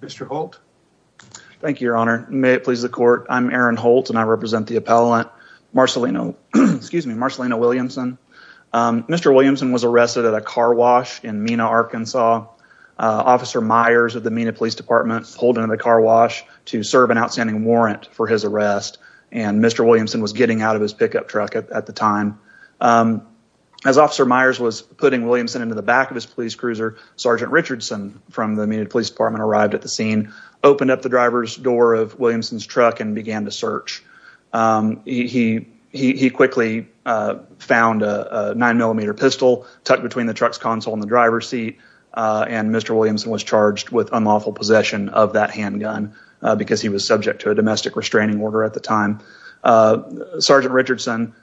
Mr. Holt. Thank you, your honor. May it please the court. I'm Aaron Holt and I represent the appellant Marcelino Williamson. Mr. Williamson was arrested at a car wash in Mena, Arkansas. Officer Myers of the Mena Police Department pulled into the car wash to serve an outstanding warrant for his arrest and Mr. Williamson was getting out of his pickup truck at the time. As Officer Myers was putting Williamson into the back of his police cruiser, Sergeant Richardson from the Mena Police Department arrived at the scene, opened up the driver's door of Williamson's truck and began to search. He quickly found a nine millimeter pistol tucked between the truck's and Mr. Williamson was charged with unlawful possession of that handgun because he was subject to a domestic restraining order at the time. Sergeant Richardson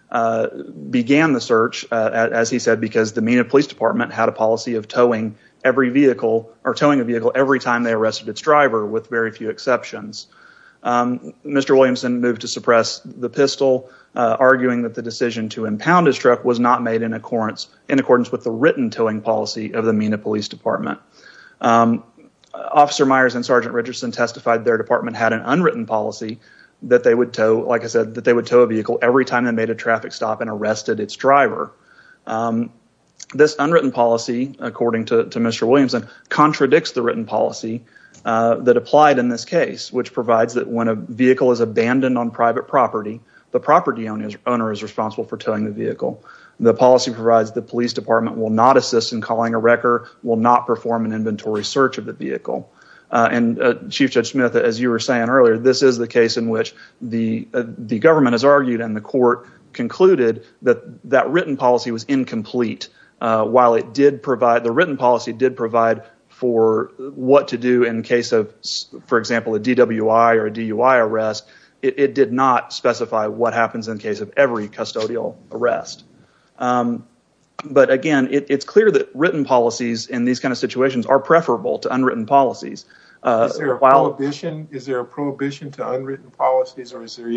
began the search, as he said, because the Mena Police Department had a policy of towing a vehicle every time they arrested its driver with very few exceptions. Mr. Williamson moved to suppress the pistol, arguing that the decision to impound his truck was not made in accordance with the written towing policy of the Mena Police Department. Officer Myers and Sergeant Richardson testified their department had an unwritten policy that they would tow, like I said, that they would tow a vehicle every time they made a traffic stop and arrested its driver. This unwritten policy, according to Mr. Williamson, contradicts the written policy that applied in this case, which provides that when a vehicle is abandoned on private property, the property owner is responsible for towing the vehicle. Chief Judge Smith, as you were saying earlier, this is the case in which the government has argued and the court concluded that that written policy was incomplete. While the written policy did provide for what to do in case of, for example, a DWI or DUI arrest, it did not specify what happens in case of every custodial arrest. But again, it's clear written policies in these kinds of situations are preferable to unwritten policies. Is there a prohibition to unwritten policies or is there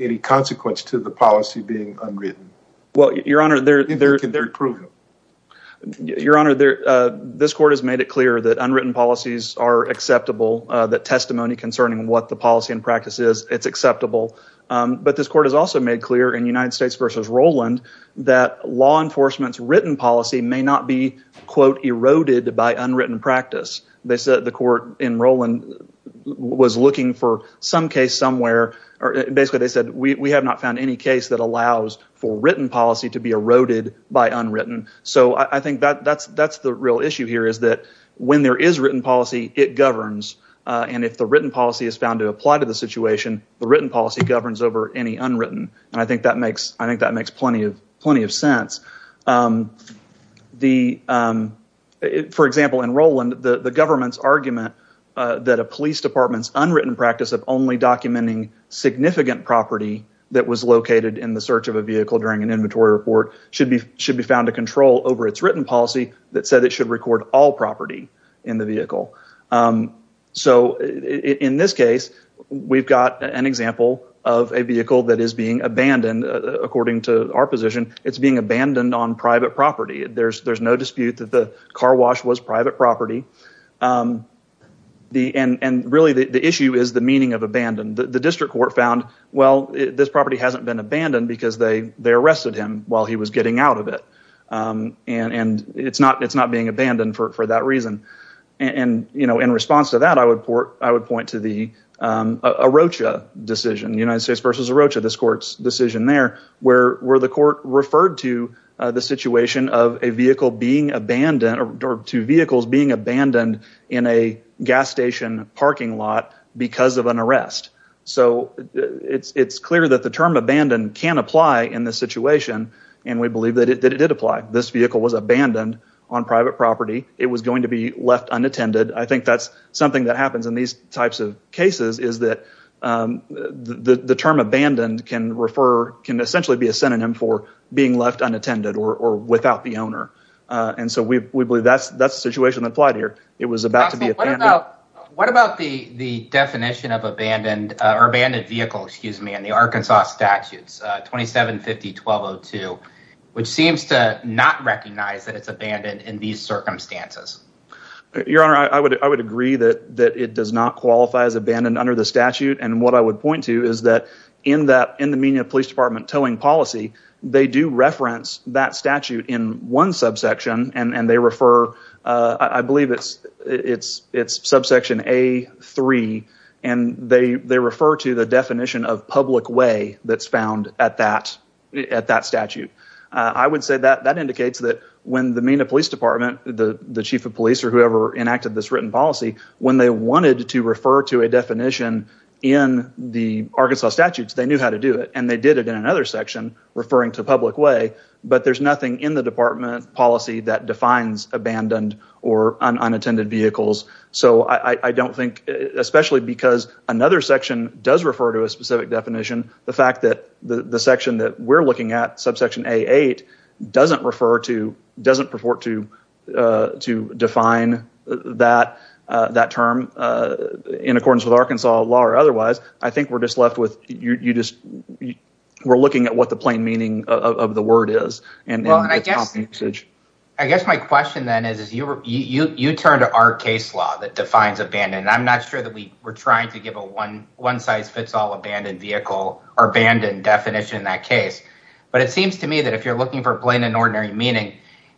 any consequence to the policy being unwritten? Your Honor, this court has made it clear that unwritten policies are acceptable, that testimony concerning what the policy and practice is, it's acceptable. But this court has also made clear in United States versus Rowland that law enforcement's written policy may not be, quote, eroded by unwritten practice. They said the court in Rowland was looking for some case somewhere. Basically, they said, we have not found any case that allows for written policy to be eroded by unwritten. So I think that's the real issue here is that when there is written policy, it governs. And if the written policy is found to apply to the situation, the written policy governs over any unwritten. I think that makes plenty of sense. For example, in Rowland, the government's argument that a police department's unwritten practice of only documenting significant property that was located in the search of a vehicle during an inventory report should be found to control over its written policy that said it should record all property in the vehicle. So in this case, we've got an example of a vehicle that is being abandoned. According to our position, it's being abandoned on private property. There's no dispute that the car wash was private property. And really, the issue is the meaning of abandoned. The district court found, well, this property hasn't been abandoned because they arrested him while he was getting out of it. And it's not being abandoned for that reason. And in response to that, I would point to the Arrocha decision, United States versus Arrocha, this court's decision there, where the court referred to the situation of a vehicle being abandoned or two vehicles being abandoned in a gas station parking lot because of an arrest. So it's clear that the term was abandoned on private property. It was going to be left unattended. I think that's something that happens in these types of cases is that the term abandoned can refer, can essentially be a synonym for being left unattended or without the owner. And so we believe that's the situation that applied here. It was about to be abandoned. What about the definition of abandoned or abandoned vehicle, excuse me, in the Arkansas statutes, 2750-1202, which seems to not recognize that it's abandoned in these circumstances. Your Honor, I would agree that it does not qualify as abandoned under the statute. And what I would point to is that in the Minneapolis Police Department towing policy, they do reference that statute in one subsection, and they refer, I believe it's subsection A-3, and they refer to the definition of public way that's found at that statute. I would say that that indicates that when the Minneapolis Police Department, the chief of police or whoever enacted this written policy, when they wanted to refer to a definition in the Arkansas statutes, they knew how to do it, and they did it in another section referring to public way, but there's nothing in the department policy that defines abandoned or unattended vehicles. So I don't think, especially because another section does refer to a specific definition, the fact that the section that we're looking at, subsection A-8, doesn't refer to, doesn't purport to define that term in accordance with Arkansas law or otherwise. I think we're just looking at what the plain meaning of the word is. I guess my question then is you turn to our case law that defines abandoned, and I'm not sure that we're trying to give a one-size-fits-all abandoned vehicle or abandoned definition in that case, but it seems to me that if you're looking for plain and ordinary meaning,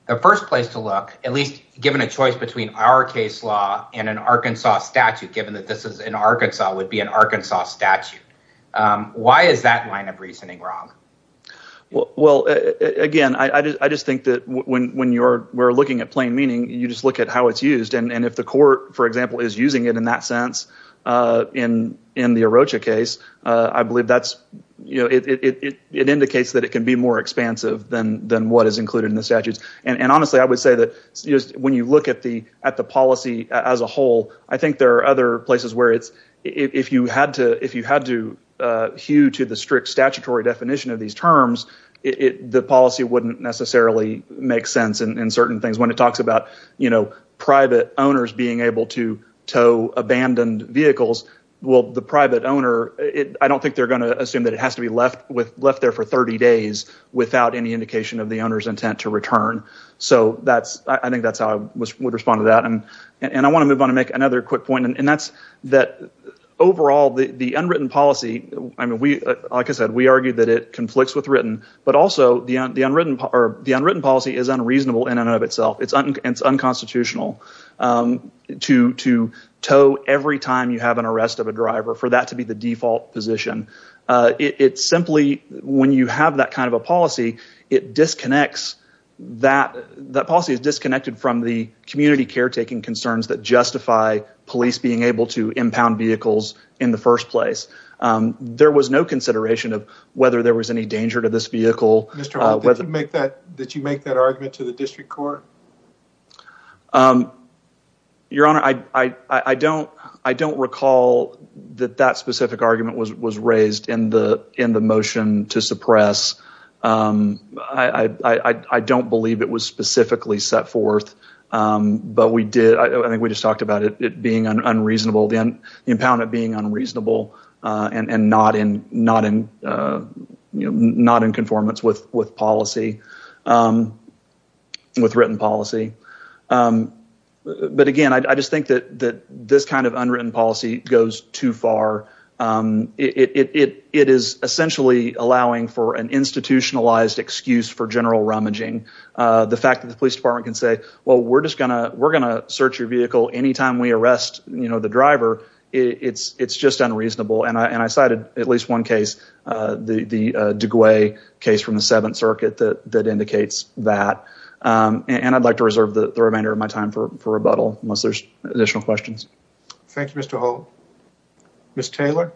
the first place to look, at least given a choice between our case law and an Arkansas statute, given that this is in Arkansas, would be an Arkansas statute. Why is that line of reasoning wrong? Well, again, I just think that when we're looking at plain and ordinary, that's how it's used. If the court, for example, is using it in that sense in the Arrocha case, I believe it indicates that it can be more expansive than what is included in the statutes. Honestly, I would say that when you look at the policy as a whole, I think there are other places where if you had to hew to the strict statutory definition of these terms, the policy wouldn't necessarily make sense in certain things. When it talks about private owners being able to tow abandoned vehicles, well, the private owner, I don't think they're going to assume that it has to be left there for 30 days without any indication of the owner's intent to return. I think that's how I would respond to that. I want to move on and make another quick point. Overall, the unwritten policy, like I said, we argue that it conflicts with written, but also the unwritten policy is unreasonable in and of itself. It's unconstitutional to tow every time you have an arrest of a driver for that to be the default position. When you have that kind of a policy, that policy is disconnected from the community caretaking concerns that justify police being able to impound vehicles in the first place. There was no consideration of whether there was any danger to this vehicle. Did you make that argument to the district court? Your Honor, I don't recall that specific argument was raised in the motion to suppress. I don't believe it was specifically set forth, but we did. I think we just talked about it being unreasonable, the impoundment being unreasonable and not in conformance with policy, with written policy. Again, I just think that this kind of unwritten policy goes too far. It is essentially allowing for an institutionalized excuse for general rummaging. The fact that the police department can say, well, we're just going to search your vehicle any time we arrest the driver, it's just unreasonable. I cited at least one case, the de Guay case from the Seventh Circuit that indicates that. I'd like to reserve the remainder of my time for rebuttal unless there's additional questions. Thank you, Mr. Holt. Ms. Taylor?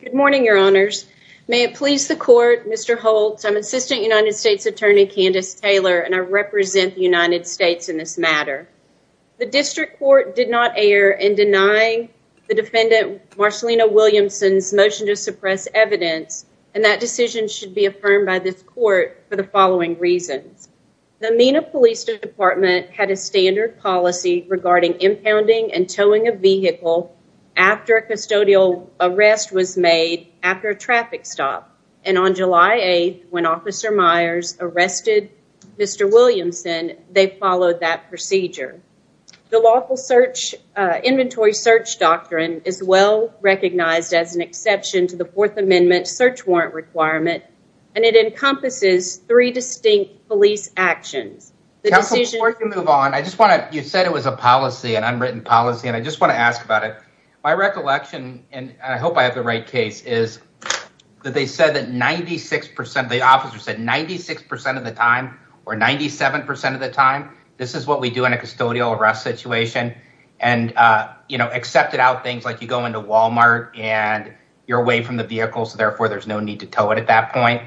Good morning, Your Honors. May it please the court, Mr. Holt, I'm Assistant United States Attorney Candace Taylor, and I represent the United States in this matter. The district court did not err in denying the defendant Marcellina Williamson's motion to suppress evidence, and that decision should be affirmed by this court for the following reasons. The Mena Police Department had a standard policy regarding impounding and towing a vehicle after a custodial arrest was made after a traffic stop, and on July 8th, when Officer Myers arrested Mr. Williamson, they followed that procedure. The lawful inventory search doctrine is well recognized as an exception to the Fourth Amendment search warrant requirement, and it encompasses three distinct police actions. Counsel, before you move on, I just want to, you said it was a policy, an unwritten policy, and I just want to ask about it. My recollection, and I hope I have the right case, is that they said that 96%, the officer said 96% of the time, or 97% of the time, this is what we do in a custodial arrest situation, and, you know, accepted out things like you go into Walmart and you're away from the vehicle, so therefore there's no need to tow it at that point.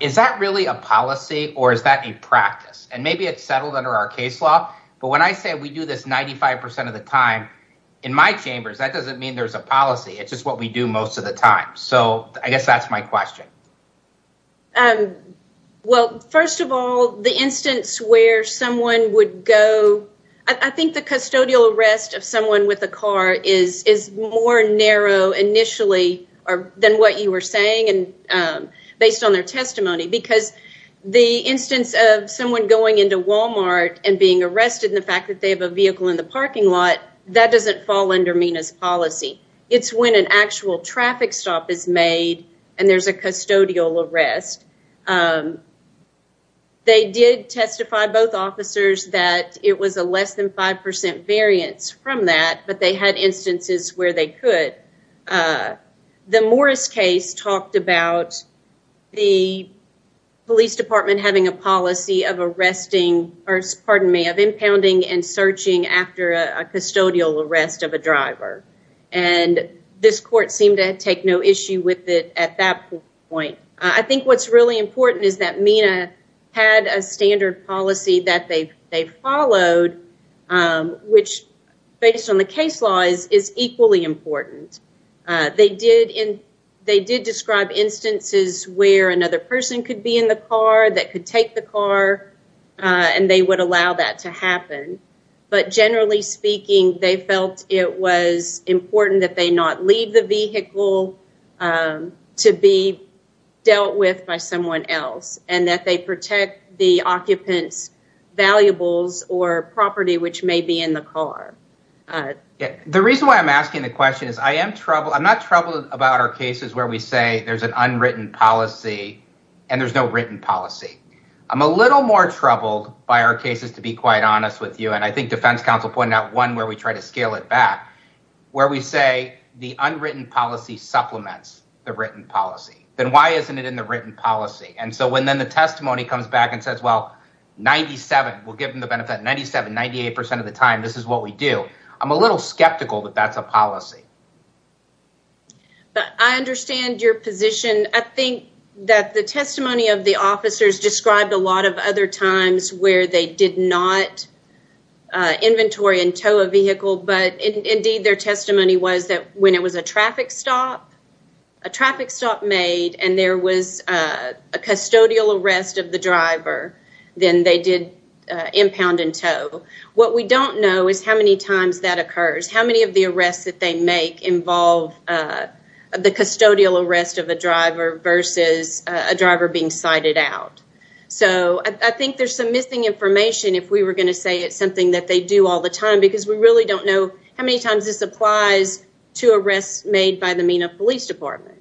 Is that really a policy, or is that a practice? And maybe it's settled under our case law, but when I say we do this 95% of the time, in my chambers, that doesn't mean there's a policy. It's just what we do most of the time. So I guess that's my question. Well, first of all, the instance where someone would go, I think the custodial arrest of someone with a car is more narrow initially than what you were saying based on their testimony, because the instance of someone going into Walmart and being arrested and the fact that they have a vehicle in the parking lot, that doesn't fall under MENA's policy. It's when an actual traffic stop is made and there's a custodial arrest. They did testify, both officers, that it was a less than 5% variance from that, but they had instances where they could. The Morris case talked about the police department having a policy of impounding and searching after a custodial arrest of a driver. This court seemed to take no issue with it at that point. I think what's really important is that MENA had a standard policy that they followed, which based on the case law is equally important. They did describe instances where another person could be in the car that could take the car, and they would allow that to happen. But generally speaking, they felt it was and that they protect the occupant's valuables or property which may be in the car. The reason why I'm asking the question is I am troubled. I'm not troubled about our cases where we say there's an unwritten policy and there's no written policy. I'm a little more troubled by our cases, to be quite honest with you, and I think defense counsel pointed out one where we try to scale it back, where we say the unwritten policy supplements the written policy. Then why isn't it in the written policy? And so when then the testimony comes back and says, well, 97, we'll give them the benefit, 97, 98 percent of the time, this is what we do. I'm a little skeptical that that's a policy. But I understand your position. I think that the testimony of the officers described a lot of other times where they did not inventory and tow a vehicle, but indeed their testimony was that when it was a traffic stop, a traffic stop made, and there was a custodial arrest of the driver, then they did impound and tow. What we don't know is how many times that occurs, how many of the arrests that they make involve the custodial arrest of a driver versus a driver being cited out. So I think there's some missing information if we were going to say it's something that they do all the time because we are a police department.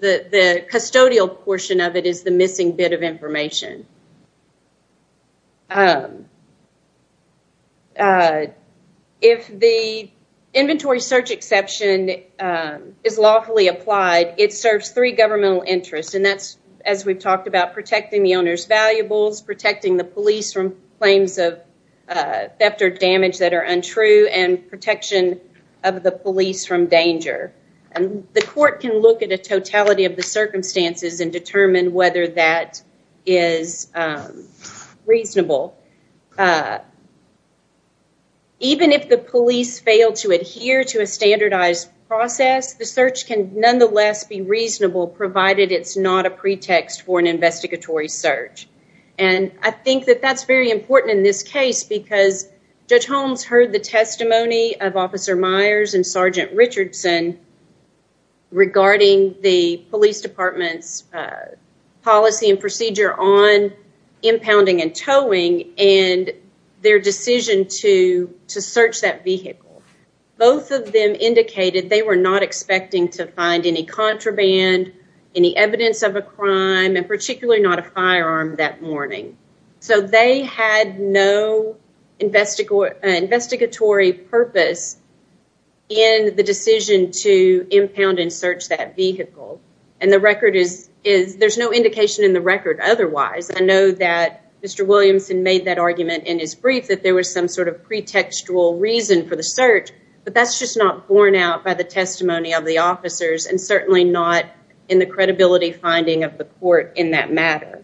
The custodial portion of it is the missing bit of information. If the inventory search exception is lawfully applied, it serves three governmental interests, and that's, as we've talked about, protecting the owner's valuables, protecting the police from claims of theft or damage that are untrue, and protection of the police from danger. The court can look at a totality of the circumstances and determine whether that is reasonable. Even if the police fail to adhere to a standardized process, the search can nonetheless be reasonable provided it's not a pretext for an investigatory search, and I think that that's very important in this case because Judge Holmes heard the testimony of Officer Myers and Sergeant Richardson regarding the police department's policy and procedure on impounding and towing and their decision to search that vehicle. Both of them indicated they were not expecting to find any contraband, any evidence of a crime, and particularly not a firearm that morning. So they had no investigatory purpose in the decision to impound and search that vehicle, and there's no indication in the record otherwise. I know that Mr. Williamson made that argument in his brief that there was some sort of pretextual reason for the search, but that's just not borne out by the testimony of the officers and certainly not in the credibility finding of the court in that matter.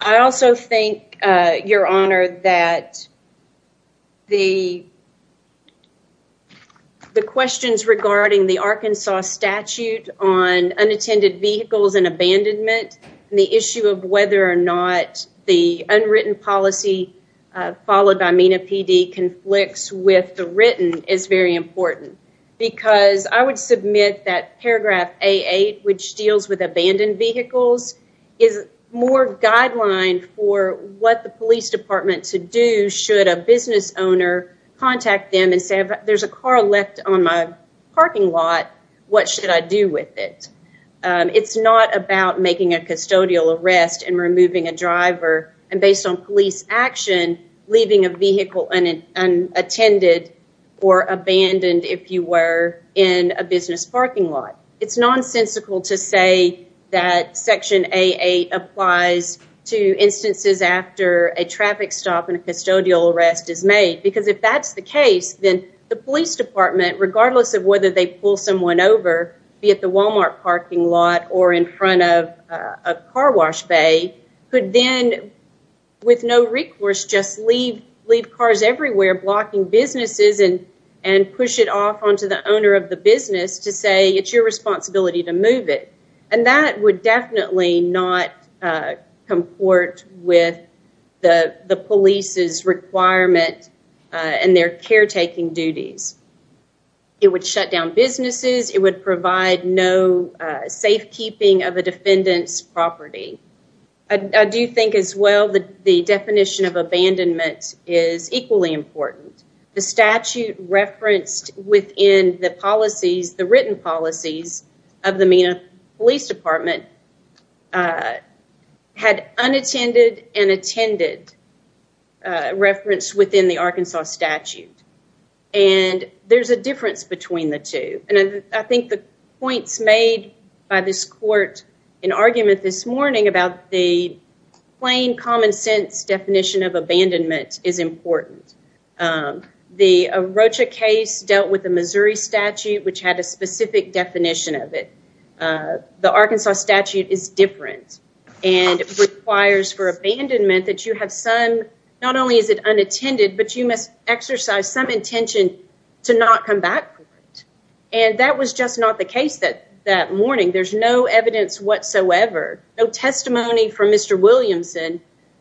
I also think, Your Honor, that the questions regarding the Arkansas statute on unattended vehicles and abandonment and the issue of whether or not the unwritten policy followed by MENA PD conflicts with the written is very important because I would submit that deals with abandoned vehicles is more guideline for what the police department to do should a business owner contact them and say there's a car left on my parking lot, what should I do with it? It's not about making a custodial arrest and removing a driver and based on police action, leaving a vehicle unattended or abandoned if you were in a business parking lot. It's nonsensical to say that section AA applies to instances after a traffic stop and a custodial arrest is made because if that's the case, then the police department, regardless of whether they pull someone over, be it the Walmart parking lot or in front of a car wash bay, could then with no recourse just leave cars everywhere blocking businesses and push it off onto the owner of it and that would definitely not comport with the police's requirement and their caretaking duties. It would shut down businesses. It would provide no safekeeping of a defendant's property. I do think as well that the definition of abandonment is equally important. The statute referenced within the written policies of the Mena Police Department had unattended and attended referenced within the Arkansas statute and there's a difference between the two and I think the points made by this court in argument this morning about the common sense definition of abandonment is important. The Rocha case dealt with the Missouri statute which had a specific definition of it. The Arkansas statute is different and it requires for abandonment that you have some, not only is it unattended, but you must exercise some intention to not come back for it and that was just not the case that that morning. There's no evidence whatsoever, no testimony from Mr. Williamson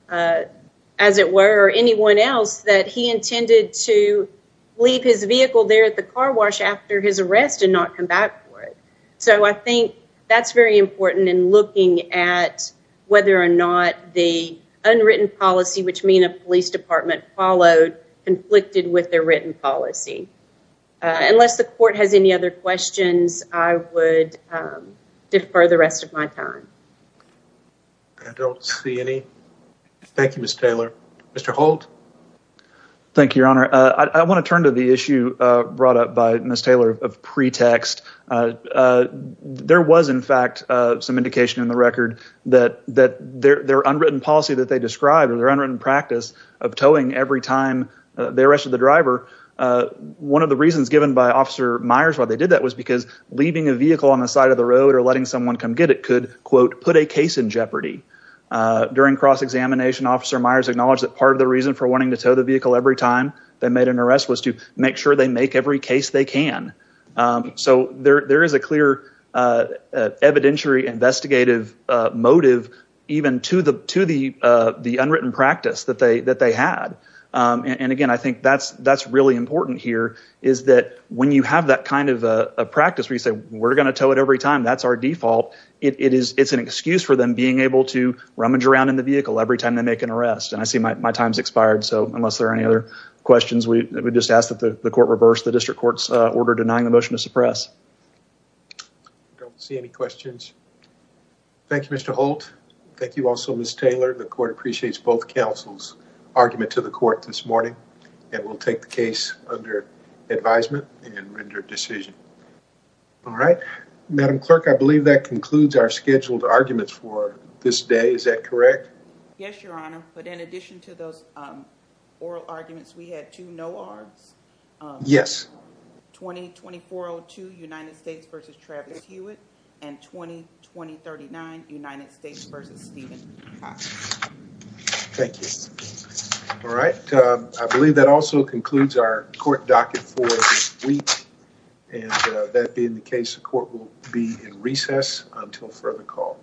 as it were or anyone else that he intended to leave his vehicle there at the car wash after his arrest and not come back for it. So I think that's very important in looking at whether or not the unwritten policy which Mena Police Department followed conflicted with their written policy. Unless the court has any other questions, I would defer the rest of my time. I don't see any. Thank you, Ms. Taylor. Mr. Holt. Thank you, your honor. I want to turn to the issue brought up by Ms. Taylor of pretext. There was in fact some indication in the record that their unwritten policy that they described or their unwritten practice of towing every time they arrested the driver. One of the reasons they did that was because leaving a vehicle on the side of the road or letting someone come get it could, quote, put a case in jeopardy. During cross-examination, Officer Myers acknowledged that part of the reason for wanting to tow the vehicle every time they made an arrest was to make sure they make every case they can. So there is a clear evidentiary investigative motive even to the unwritten practice that they had. And again, I think that's really important here is that when you have that kind of a practice where you say, we're going to tow it every time, that's our default. It's an excuse for them being able to rummage around in the vehicle every time they make an arrest. And I see my time's expired, so unless there are any other questions, we just ask that the court reverse the district court's order denying the motion to suppress. I don't see any questions. Thank you, Mr. Holt. Thank you also, Ms. Taylor. The court appreciates both counsel's argument to the court this morning and will take the case under advisement and render decision. All right, Madam Clerk, I believe that concludes our scheduled arguments for this day. Is that correct? Yes, Your Honor, but in addition to those oral arguments, we had two oral arguments. Thank you. All right, I believe that also concludes our court docket for this week and that being the case, the court will be in recess until further call.